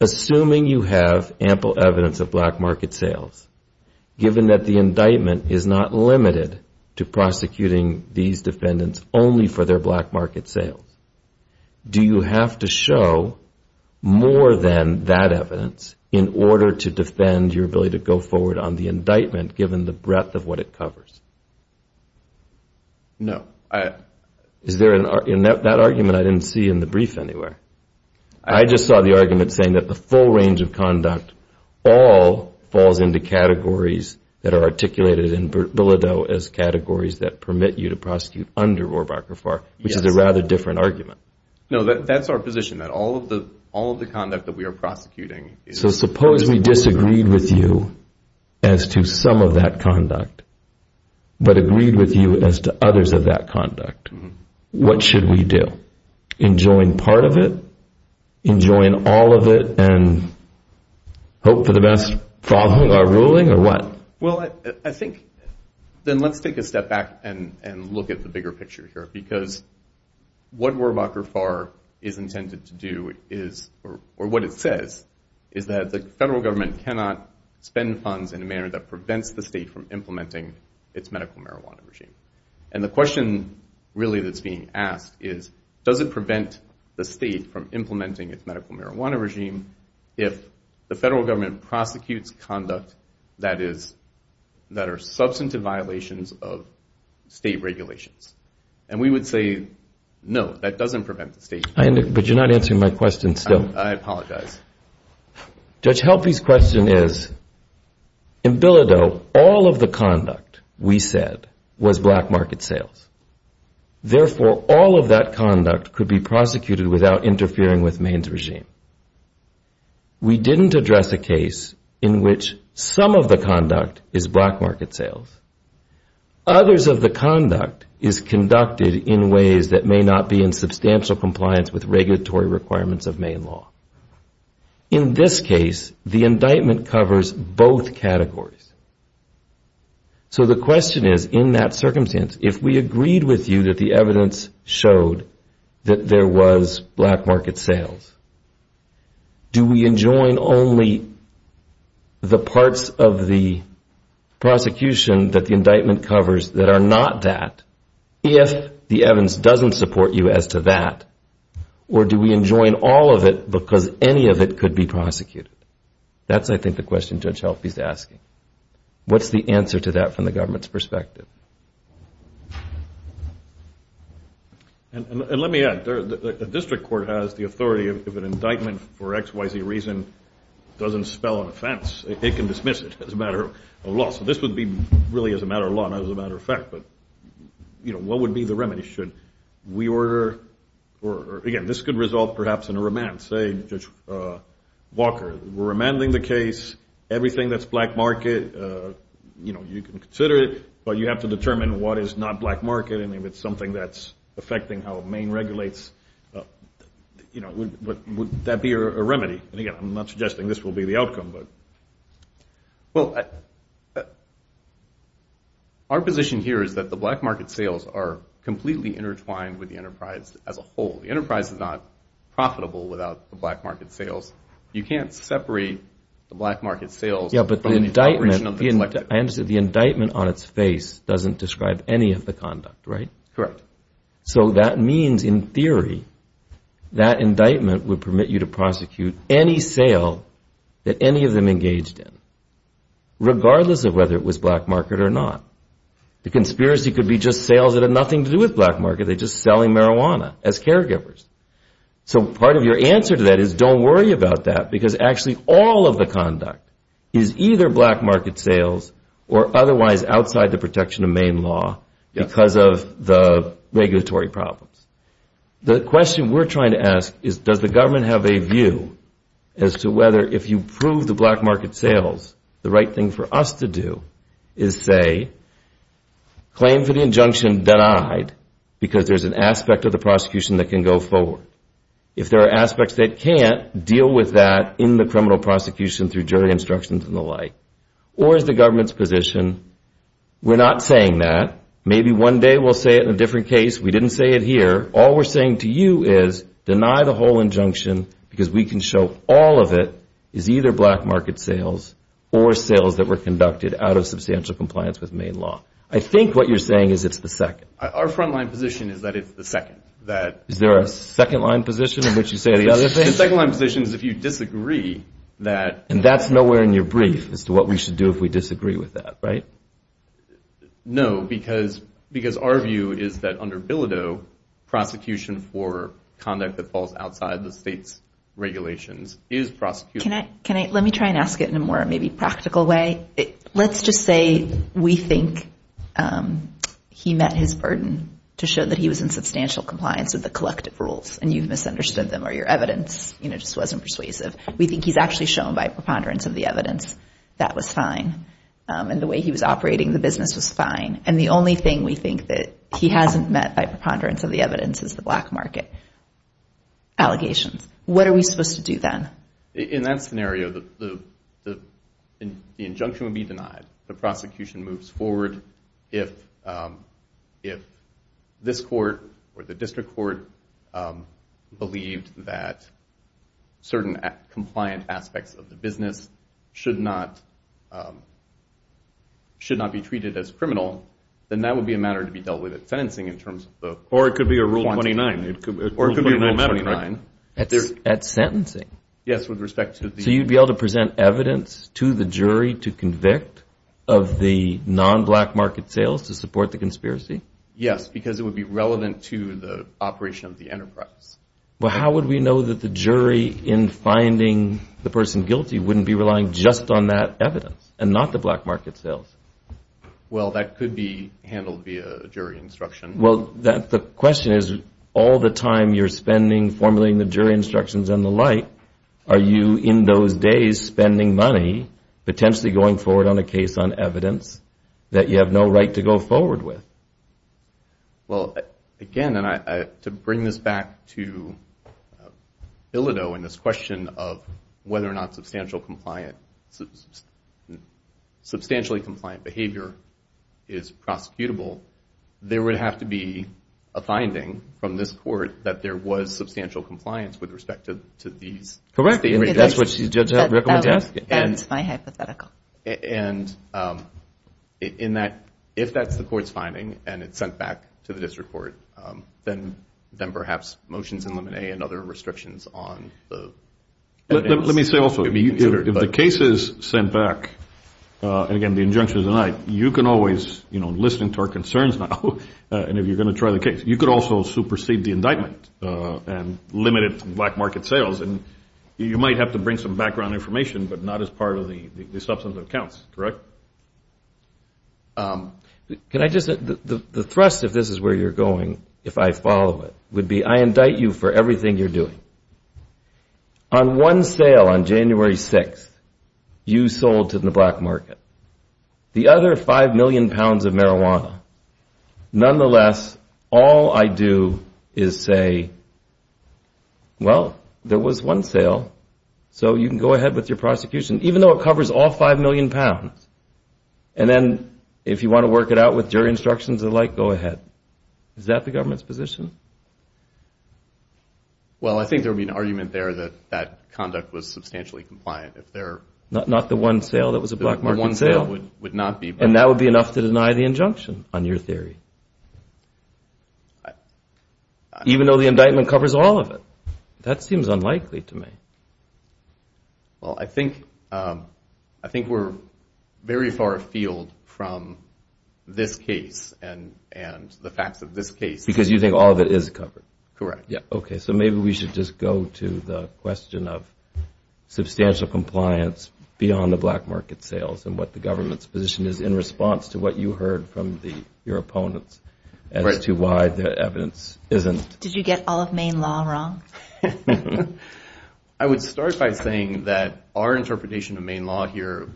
Assuming you have ample evidence of black market sales, given that the indictment is not limited to prosecuting these defendants only for their black market sales, do you have to show more than that evidence in order to defend your ability to go forward on the indictment, given the breadth of what it covers? No. Is there an argument? That argument I didn't see in the brief anywhere. I just saw the argument saying that the full range of conduct all falls into categories that are articulated in Bilodeau as categories that permit you to prosecute under Rohrabacher-Farr, which is a rather different argument. No, that's our position, that all of the conduct that we are prosecuting... So suppose we disagreed with you as to some of that conduct, but agreed with you as to others of that conduct. What should we do? Enjoying part of it? Enjoying all of it and hope for the best following our ruling or what? Well, I think then let's take a step back and look at the bigger picture here, because what Rohrabacher-Farr is intended to do is, or what it says, is that the federal government cannot spend funds in a manner that prevents the state from implementing its medical marijuana regime. And the question really that's being asked is, does it prevent the state from implementing its medical marijuana regime if the federal government prosecutes conduct that are substantive violations of state regulations? And we would say, no, that doesn't prevent the state from... But you're not answering my question still. I apologize. Judge Helpe's question is, in Bilodeau, all of the conduct, we said, was black market sales. Therefore, all of that conduct could be prosecuted without interfering with Maine's regime. We didn't address a case in which some of the conduct is black market sales. Others of the conduct is conducted in ways that may not be in substantial compliance with regulatory requirements of Maine law. In this case, the indictment covers both categories. So the question is, in that circumstance, if we agreed with you that the evidence showed that there was black market sales, do we enjoin only the parts of the prosecution that the indictment covers that are not that, if the evidence doesn't support you as to that, or do we enjoin all of it because any of it could be prosecuted? That's, I think, the question Judge Helpe's asking. What's the answer to that from the government's perspective? And let me add, the district court has the authority of an indictment for XYZ reason doesn't spell an offense. It can dismiss it as a matter of law. So this would be really as a matter of law, not as a matter of fact. But, you know, what would be the remedy? Should we order or, again, this could result perhaps in a remand. Say, Judge Walker, we're remanding the case. Everything that's black market, you know, you can consider it, but you have to determine what is not black market and if it's something that's affecting how Maine regulates, you know, would that be a remedy? And, again, I'm not suggesting this will be the outcome. Well, our position here is that the black market sales are completely intertwined with the enterprise as a whole. The enterprise is not profitable without the black market sales. You can't separate the black market sales from the operation of the collective. Yeah, but the indictment, I understand, the indictment on its face doesn't describe any of the conduct, right? Correct. So that means, in theory, that indictment would permit you to prosecute any sale that any of them engaged in, regardless of whether it was black market or not. The conspiracy could be just sales that have nothing to do with black market. They're just selling marijuana as caregivers. So part of your answer to that is don't worry about that because actually all of the conduct is either black market sales or otherwise outside the protection of Maine law because of the regulatory problems. The question we're trying to ask is does the government have a view as to whether, if you prove the black market sales, the right thing for us to do is say claim for the injunction denied because there's an aspect of the prosecution that can go forward. If there are aspects that can't, deal with that in the criminal prosecution through jury instructions and the like. Or is the government's position, we're not saying that. Maybe one day we'll say it in a different case. We didn't say it here. All we're saying to you is deny the whole injunction because we can show all of it is either black market sales or sales that were conducted out of substantial compliance with Maine law. I think what you're saying is it's the second. Our front line position is that it's the second. Is there a second line position in which you say the other thing? The second line position is if you disagree that. And that's nowhere in your brief as to what we should do if we disagree with that, right? No, because our view is that under Bilodeau, prosecution for conduct that falls outside the state's regulations is prosecution. Let me try and ask it in a more maybe practical way. Let's just say we think he met his burden to show that he was in substantial compliance with the collective rules and you've misunderstood them or your evidence just wasn't persuasive. We think he's actually shown by preponderance of the evidence that was fine and the way he was operating the business was fine. And the only thing we think that he hasn't met by preponderance of the evidence is the black market allegations. What are we supposed to do then? In that scenario, the injunction would be denied. The prosecution moves forward. If this court or the district court believed that certain compliant aspects of the business should not be treated as criminal, then that would be a matter to be dealt with at sentencing in terms of the quantity. Or it could be a Rule 29 matter, correct? At sentencing? Yes, with respect to the- So you'd be able to present evidence to the jury to convict of the non-black market sales to support the conspiracy? Yes, because it would be relevant to the operation of the enterprise. Well, how would we know that the jury in finding the person guilty wouldn't be relying just on that evidence and not the black market sales? Well, that could be handled via jury instruction. Well, the question is, all the time you're spending formulating the jury instructions and the like, are you in those days spending money potentially going forward on a case on evidence that you have no right to go forward with? Well, again, to bring this back to Bilodeau and this question of whether or not substantially compliant behavior is prosecutable, there would have to be a finding from this court that there was substantial compliance with respect to these- Correct. That's what you recommend to ask? That's my hypothetical. And if that's the court's finding and it's sent back to the district court, then perhaps motions in Limine and other restrictions on the evidence- Let me say also, if the case is sent back, and again, the injunction is a lie, you can always, listening to our concerns now, and if you're going to try the case, you could also supersede the indictment and limit it to black market sales. And you might have to bring some background information, but not as part of the substantive accounts, correct? Can I just- the thrust, if this is where you're going, if I follow it, would be I indict you for everything you're doing. On one sale on January 6th, you sold to the black market. The other 5 million pounds of marijuana. Nonetheless, all I do is say, well, there was one sale, so you can go ahead with your prosecution, even though it covers all 5 million pounds. And then if you want to work it out with jury instructions and the like, go ahead. Is that the government's position? Well, I think there would be an argument there that that conduct was substantially compliant. Not the one sale that was a black market sale? The one sale would not be. And that would be enough to deny the injunction on your theory? Even though the indictment covers all of it? That seems unlikely to me. Well, I think we're very far afield from this case and the facts of this case. Because you think all of it is covered? Correct. Okay, so maybe we should just go to the question of substantial compliance beyond the black market sales and what the government's position is in response to what you heard from your opponents as to why the evidence isn't. Did you get all of Maine law wrong? I would start by saying that our interpretation of Maine law here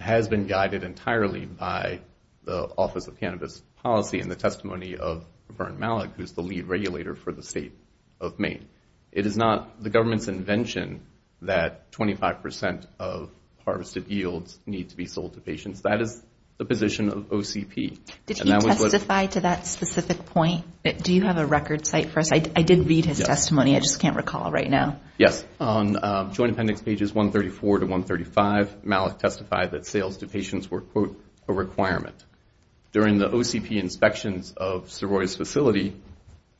has been guided entirely by the Office of Cannabis Policy and the testimony of Vern Malick, who's the lead regulator for the state of Maine. It is not the government's invention that 25% of harvested yields need to be sold to patients. That is the position of OCP. Did he testify to that specific point? Do you have a record cite for us? I did read his testimony. I just can't recall right now. Yes. On Joint Appendix pages 134 to 135, Malick testified that sales to patients were, quote, a requirement. During the OCP inspections of Soroy's facility,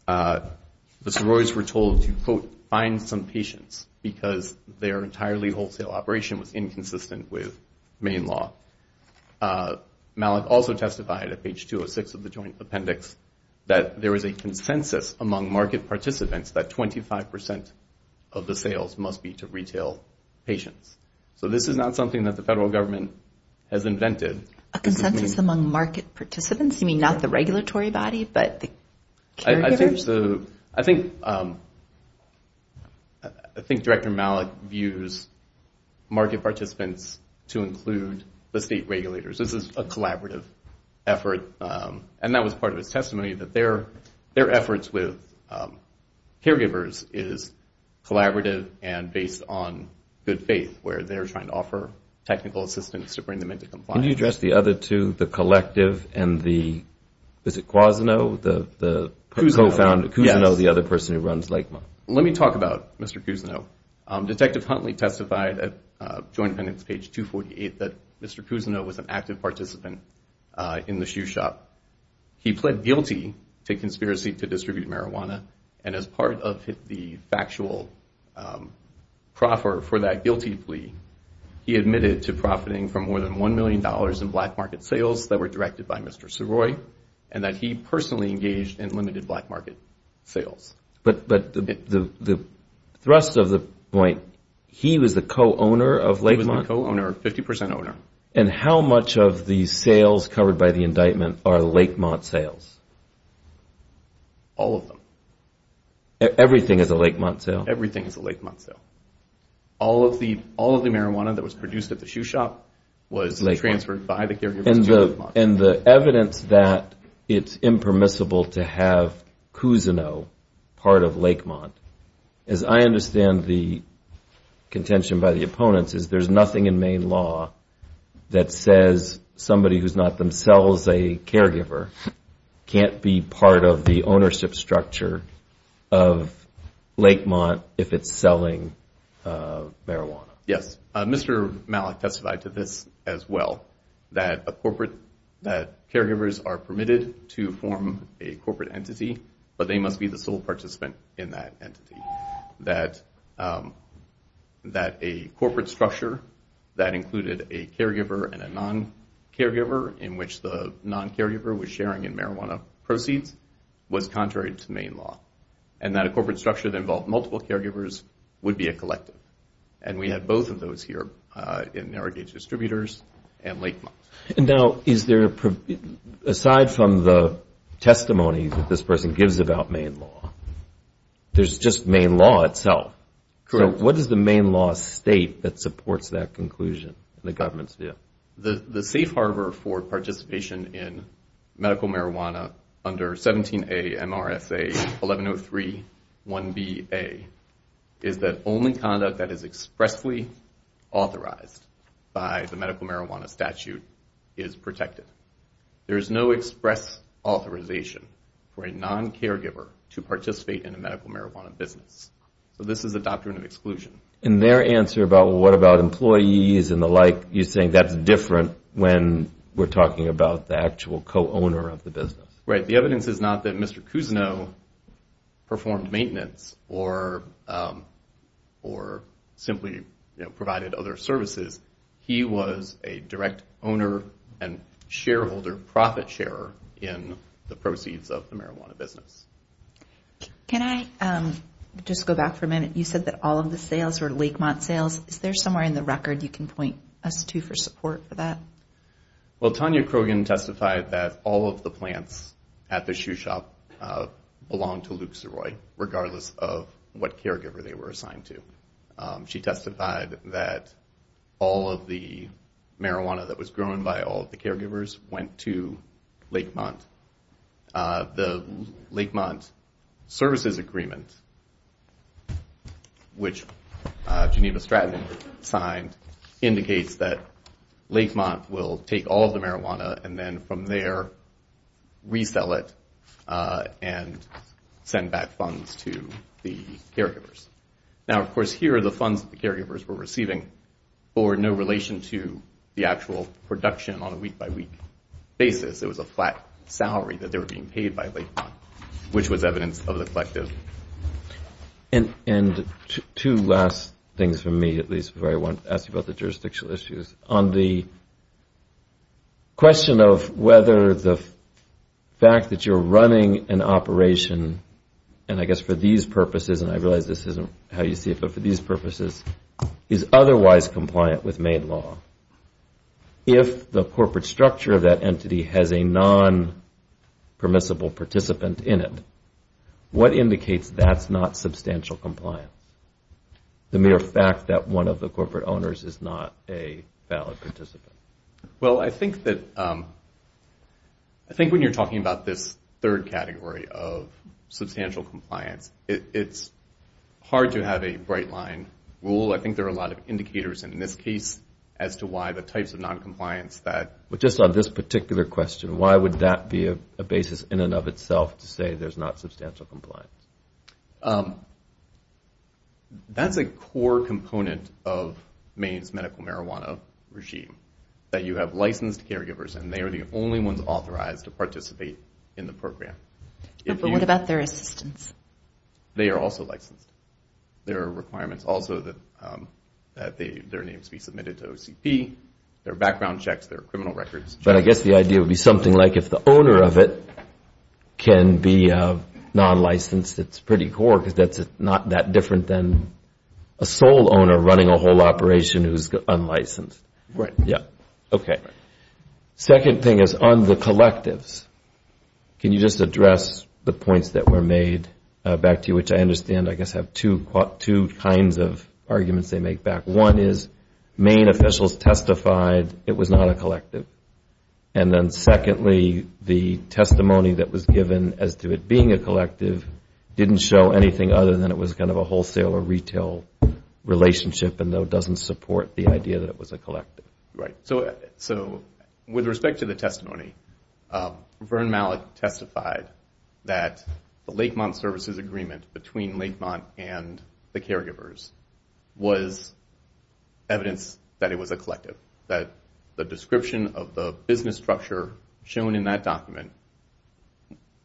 the Soroy's were told to, quote, find some patients because their entirely wholesale operation was inconsistent with Maine law. Malick also testified at page 206 of the Joint Appendix that there was a consensus among market participants that 25% of the sales must be to retail patients. So this is not something that the federal government has invented. A consensus among market participants? You mean not the regulatory body but the caregivers? I think Director Malick views market participants to include the state regulators. This is a collaborative effort, and that was part of his testimony, that their efforts with caregivers is collaborative and based on good faith, where they're trying to offer technical assistance to bring them into compliance. Can you address the other two, the collective and the, is it Cuozino, the co-founder? Cuozino, yes. Cuozino, the other person who runs Lakemont? Let me talk about Mr. Cuozino. Detective Huntley testified at Joint Appendix page 248 that Mr. Cuozino was an active participant in the shoe shop. He pled guilty to conspiracy to distribute marijuana, and as part of the factual proffer for that guilty plea, he admitted to profiting from more than $1 million in black market sales that were directed by Mr. Saroy, and that he personally engaged in limited black market sales. But the thrust of the point, he was the co-owner of Lakemont? He was the co-owner, 50% owner. And how much of the sales covered by the indictment are Lakemont sales? All of them. Everything is a Lakemont sale? Everything is a Lakemont sale. All of the marijuana that was produced at the shoe shop was transferred by the caregivers to Lakemont. And the evidence that it's impermissible to have Cuozino part of Lakemont, as I understand the contention by the opponents, is there's nothing in Maine law that says somebody who's not themselves a caregiver can't be part of the ownership structure of Lakemont if it's selling marijuana. Yes. Mr. Malik testified to this as well, that caregivers are permitted to form a corporate entity, but they must be the sole participant in that entity. That a corporate structure that included a caregiver and a non-caregiver in which the non-caregiver was sharing in marijuana proceeds was contrary to Maine law. And that a corporate structure that involved multiple caregivers would be a collective. And we had both of those here in Narragage Distributors and Lakemont. And now, aside from the testimony that this person gives about Maine law, there's just Maine law itself. Correct. So what does the Maine law state that supports that conclusion in the government's view? The safe harbor for participation in medical marijuana under 17A MRSA 1103-1BA is that only conduct that is expressly authorized by the medical marijuana statute is protected. There is no express authorization for a non-caregiver to participate in a medical marijuana business. So this is a doctrine of exclusion. In their answer about what about employees and the like, you're saying that's different when we're talking about the actual co-owner of the business. Right. The evidence is not that Mr. Cousineau performed maintenance or simply provided other services. He was a direct owner and shareholder profit sharer in the proceeds of the marijuana business. Can I just go back for a minute? You said that all of the sales were Lakemont sales. Is there somewhere in the record you can point us to for support for that? Well, Tanya Krogan testified that all of the plants at the shoe shop belonged to Luke Zeroy, regardless of what caregiver they were assigned to. She testified that all of the marijuana that was grown by all of the caregivers went to Lakemont. The Lakemont services agreement, which Geneva Stratton signed, indicates that Lakemont will take all of the marijuana and then from there resell it and send back funds to the caregivers. Now, of course, here are the funds that the caregivers were receiving for no relation to the actual production on a week-by-week basis. It was a flat salary that they were being paid by Lakemont, which was evidence of the collective. And two last things from me, at least, before I ask you about the jurisdictional issues. On the question of whether the fact that you're running an operation, and I guess for these purposes, and I realize this isn't how you see it, but for these purposes, is otherwise compliant with Maid Law. If the corporate structure of that entity has a non-permissible participant in it, what indicates that's not substantial compliance? The mere fact that one of the corporate owners is not a valid participant. Well, I think that when you're talking about this third category of substantial compliance, it's hard to have a bright line rule. I think there are a lot of indicators in this case as to why the types of non-compliance that... But just on this particular question, why would that be a basis in and of itself to say there's not substantial compliance? That's a core component of Maine's medical marijuana regime, that you have licensed caregivers, and they are the only ones authorized to participate in the program. But what about their assistance? They are also licensed. There are requirements also that their names be submitted to OCP, there are background checks, there are criminal records. But I guess the idea would be something like if the owner of it can be non-licensed, it's pretty core because that's not that different than a sole owner running a whole operation who's unlicensed. Right. Okay. Second thing is on the collectives. Can you just address the points that were made back to you, which I understand I guess have two kinds of arguments they make back. One is Maine officials testified it was not a collective. And then secondly, the testimony that was given as to it being a collective didn't show anything other than it was kind of a wholesale or retail relationship and doesn't support the idea that it was a collective. Right. So with respect to the testimony, Vern Malick testified that the Lakemont Services Agreement between Lakemont and the caregivers was evidence that it was a collective, that the description of the business structure shown in that document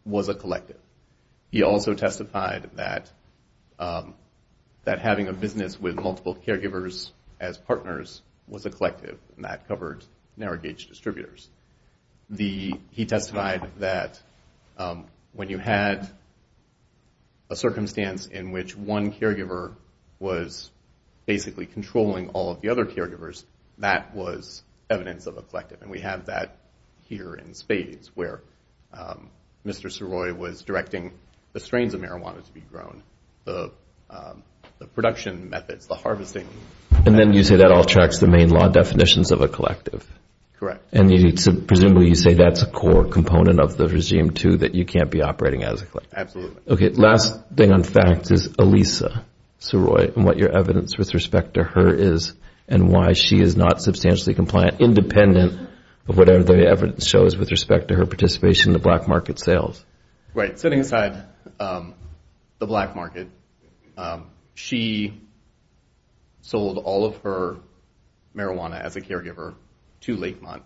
was a collective. He also testified that having a business with multiple caregivers as partners was a collective, and that covered narrow gauge distributors. He testified that when you had a circumstance in which one caregiver was basically controlling all of the other caregivers, that was evidence of a collective. And we have that here in spades where Mr. Saroy was directing the strains of marijuana to be grown, the production methods, the harvesting. And then you say that all tracks the Maine law definitions of a collective. Correct. And presumably you say that's a core component of the regime, too, that you can't be operating as a collective. Absolutely. Okay, last thing on facts is Elisa Saroy and what your evidence with respect to her is and why she is not substantially compliant, independent of whatever the evidence shows with respect to her participation in the black market sales. Right. Setting aside the black market, she sold all of her marijuana as a caregiver to Lakemont.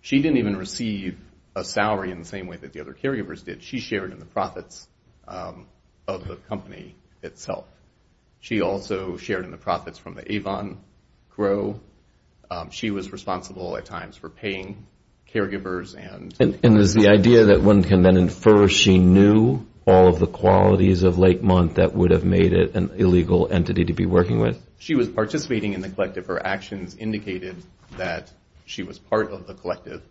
She didn't even receive a salary in the same way that the other caregivers did. She shared in the profits of the company itself. She also shared in the profits from the Avon grow. She was responsible at times for paying caregivers. And is the idea that one can then infer she knew all of the qualities of Lakemont that would have made it an illegal entity to be working with? She was participating in the collective. Her actions indicated that she was part of the collective.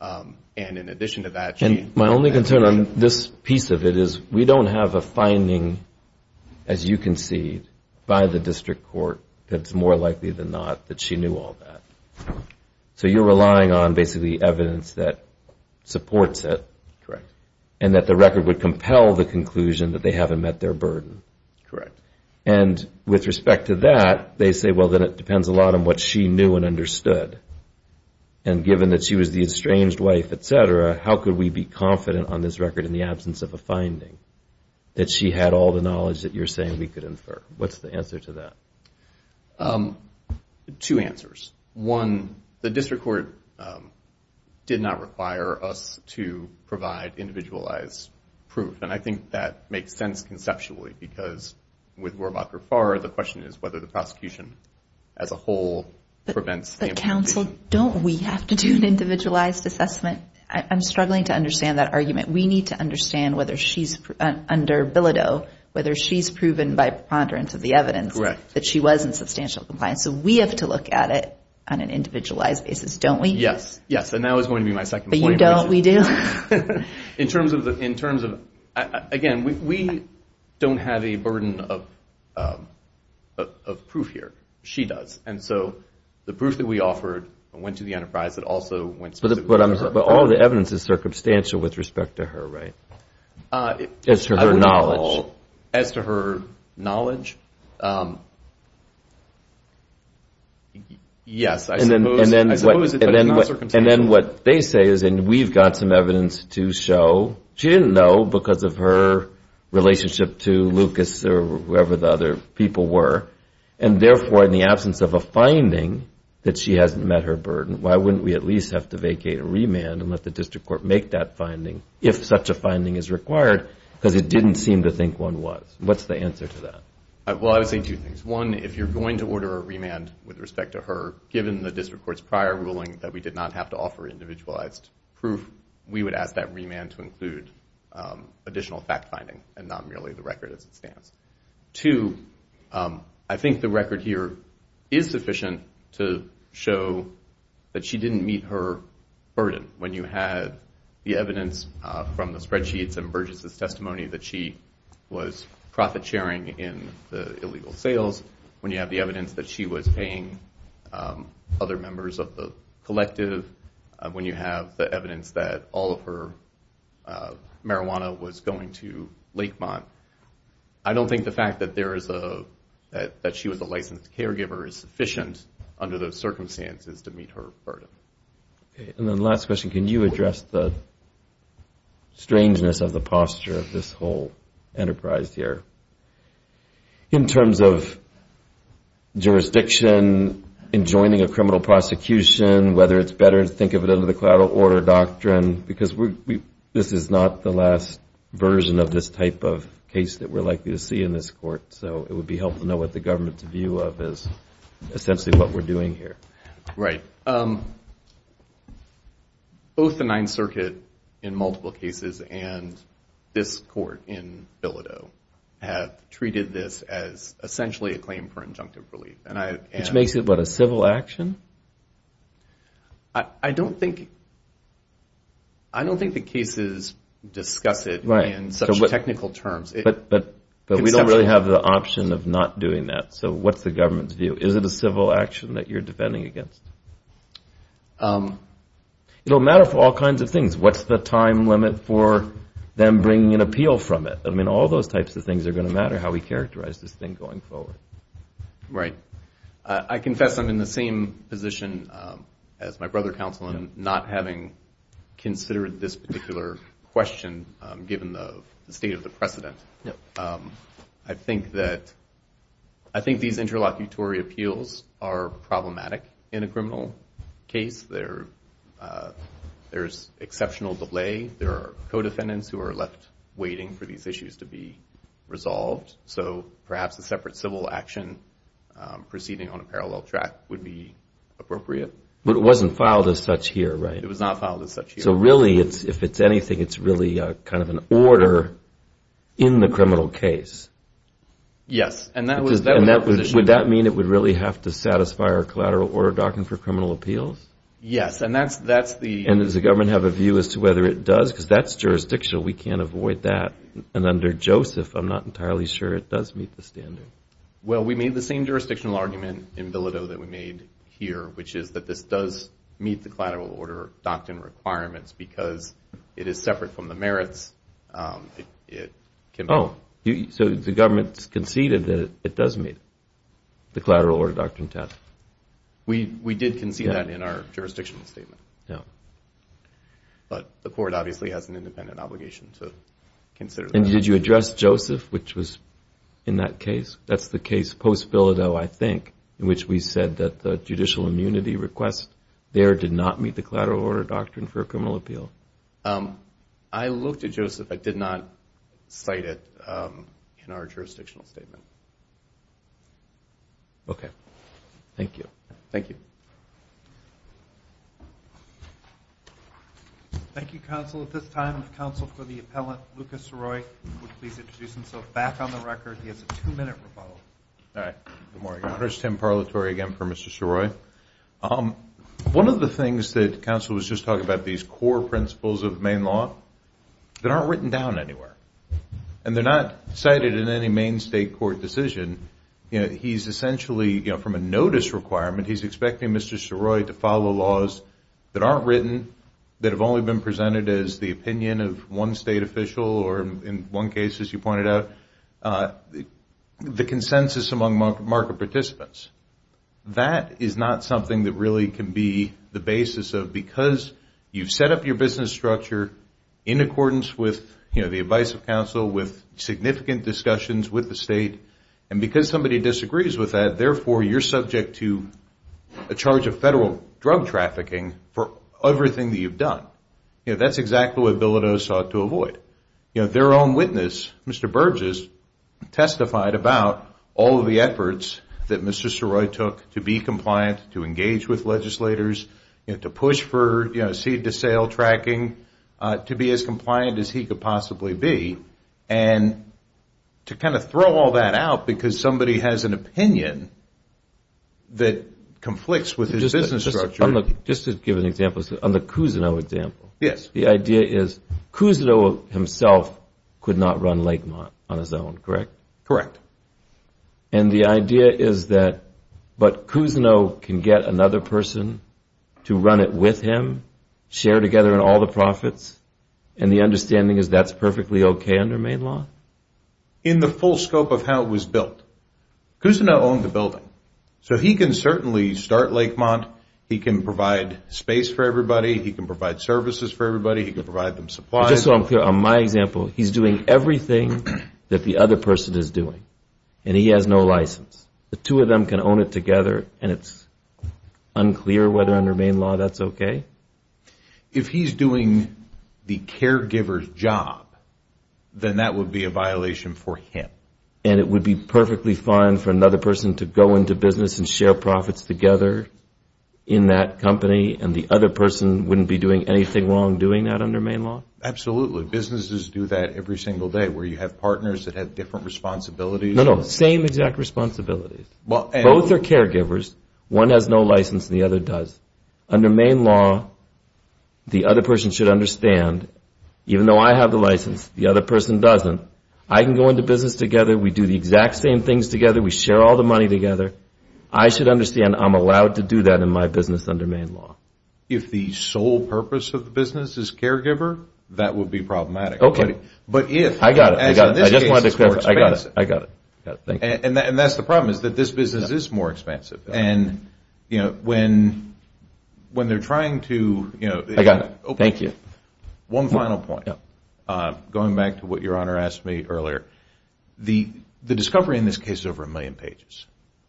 And in addition to that, she- And my only concern on this piece of it is we don't have a finding, as you concede, by the district court that's more likely than not that she knew all that. So you're relying on basically evidence that supports it. Correct. And that the record would compel the conclusion that they haven't met their burden. Correct. And with respect to that, they say, well, then it depends a lot on what she knew and understood. And given that she was the estranged wife, et cetera, how could we be confident on this record in the absence of a finding that she had all the knowledge that you're saying we could infer? What's the answer to that? Two answers. One, the district court did not require us to provide individualized proof. And I think that makes sense conceptually because with Rohrabacher-Farr, the question is whether the prosecution as a whole prevents- But counsel, don't we have to do an individualized assessment? I'm struggling to understand that argument. We need to understand whether she's-under Bilodeau, whether she's proven by preponderance of the evidence- that she was in substantial compliance. So we have to look at it on an individualized basis, don't we? Yes, yes. And that was going to be my second point. But you don't. We do. In terms of-again, we don't have a burden of proof here. She does. And so the proof that we offered went to the enterprise that also went- But all the evidence is circumstantial with respect to her, right? As to her knowledge. Yes, I suppose it's not circumstantial. And then what they say is, and we've got some evidence to show, she didn't know because of her relationship to Lucas or whoever the other people were. And therefore, in the absence of a finding that she hasn't met her burden, why wouldn't we at least have to vacate a remand and let the district court make that finding if such a finding is required because it didn't seem to think one was? What's the answer to that? Well, I would say two things. One, if you're going to order a remand with respect to her, given the district court's prior ruling that we did not have to offer individualized proof, we would ask that remand to include additional fact-finding and not merely the record as it stands. Two, I think the record here is sufficient to show that she didn't meet her burden. When you had the evidence from the spreadsheets that she was profit-sharing in the illegal sales, when you have the evidence that she was paying other members of the collective, when you have the evidence that all of her marijuana was going to Lakemont, I don't think the fact that she was a licensed caregiver is sufficient under those circumstances to meet her burden. And then the last question, can you address the strangeness of the posture of this whole enterprise here? In terms of jurisdiction, enjoining a criminal prosecution, whether it's better to think of it under the collateral order doctrine because this is not the last version of this type of case that we're likely to see in this court, so it would be helpful to know what the government's view of is essentially what we're doing here. Right. Both the Ninth Circuit in multiple cases and this court in Bilodeau have treated this as essentially a claim for injunctive relief. Which makes it what, a civil action? I don't think the cases discuss it in such technical terms. But we don't really have the option of not doing that, so what's the government's view? Is it a civil action that you're defending against? It'll matter for all kinds of things. What's the time limit for them bringing an appeal from it? I mean, all those types of things are going to matter, how we characterize this thing going forward. Right. I confess I'm in the same position as my brother counsel in not having considered this particular question given the state of the precedent. I think these interlocutory appeals are problematic in a criminal case. There's exceptional delay. There are co-defendants who are left waiting for these issues to be resolved. So perhaps a separate civil action proceeding on a parallel track would be appropriate. But it wasn't filed as such here, right? It was not filed as such here. So really, if it's anything, it's really kind of an order in the criminal case. Yes. Would that mean it would really have to satisfy our collateral order doctrine for criminal appeals? Yes. And does the government have a view as to whether it does? Because that's jurisdictional. We can't avoid that. And under Joseph, I'm not entirely sure it does meet the standard. Well, we made the same jurisdictional argument in Villido that we made here, which is that this does meet the collateral order doctrine requirements because it is separate from the merits. So the government conceded that it does meet the collateral order doctrine test. We did concede that in our jurisdictional statement. But the court obviously has an independent obligation to consider that. And did you address Joseph, which was in that case? That's the case post-Villido, I think, in which we said that the judicial immunity request there did not meet the collateral order doctrine for a criminal appeal. I looked at Joseph. I did not cite it in our jurisdictional statement. Okay. Thank you. Thank you. Thank you, counsel. At this time, the counsel for the appellant, Lucas Roy, would please introduce himself back on the record. He has a two-minute rebuttal. All right. Good morning. I'm Tim Parlatory, again, for Mr. Ciroi. One of the things that counsel was just talking about, these core principles of Maine law, that aren't written down anywhere. And they're not cited in any Maine state court decision. He's essentially, from a notice requirement, he's expecting Mr. Ciroi to follow laws that aren't written, that have only been presented as the opinion of one state official or in one case, as you pointed out. The consensus among market participants, that is not something that really can be the basis of, because you've set up your business structure in accordance with the advice of counsel, with significant discussions with the state, and because somebody disagrees with that, therefore you're subject to a charge of federal drug trafficking for everything that you've done. That's exactly what Bilodeau sought to avoid. Their own witness, Mr. Burgess, testified about all of the efforts that Mr. Ciroi took to be compliant, to engage with legislators, to push for seed-to-sale tracking, to be as compliant as he could possibly be, and to kind of throw all that out because somebody has an opinion that conflicts with his business structure. Just to give an example, on the Cousineau example. Yes. The idea is Cousineau himself could not run Lakemont on his own, correct? Correct. And the idea is that, but Cousineau can get another person to run it with him, share together in all the profits, and the understanding is that's perfectly okay under Maine law? In the full scope of how it was built, Cousineau owned the building, so he can certainly start Lakemont. He can provide space for everybody. He can provide services for everybody. He can provide them supplies. Just so I'm clear, on my example, he's doing everything that the other person is doing, and he has no license. The two of them can own it together, and it's unclear whether under Maine law that's okay? If he's doing the caregiver's job, then that would be a violation for him. And it would be perfectly fine for another person to go into business and share profits together in that company, and the other person wouldn't be doing anything wrong doing that under Maine law? Absolutely. Businesses do that every single day where you have partners that have different responsibilities. No, no, same exact responsibilities. Both are caregivers. One has no license and the other does. Under Maine law, the other person should understand, even though I have the license, the other person doesn't, I can go into business together, we do the exact same things together, we share all the money together, I should understand I'm allowed to do that in my business under Maine law. If the sole purpose of the business is caregiver, that would be problematic. Okay. But if... I got it. I just wanted to clarify. I got it. And that's the problem, is that this business is more expensive. And, you know, when they're trying to, you know... I got it. Thank you. One final point. Going back to what Your Honor asked me earlier, the discovery in this case is over a million pages.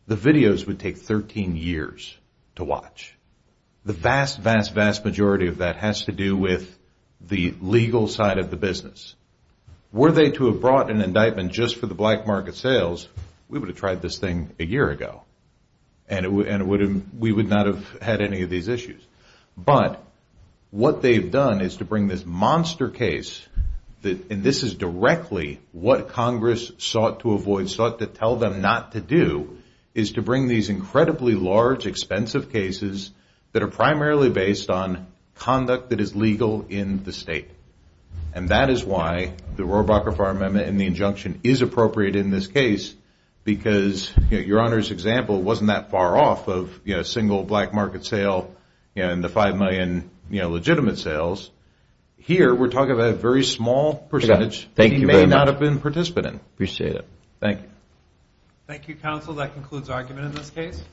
The videos would take 13 years to watch. The vast, vast, vast majority of that has to do with the legal side of the business. Were they to have brought an indictment just for the black market sales, we would have tried this thing a year ago and we would not have had any of these issues. But what they've done is to bring this monster case, and this is directly what Congress sought to avoid, sought to tell them not to do, is to bring these incredibly large, expensive cases that are primarily based on conduct that is legal in the state. And that is why the Rohrabacher Fire Amendment and the injunction is appropriate in this case because, you know, Your Honor's example wasn't that far off of, you know, single black market sale and the five million, you know, legitimate sales. Here, we're talking about a very small percentage that he may not have been participating in. Appreciate it. Thank you. Thank you, counsel. That concludes our argument in this case.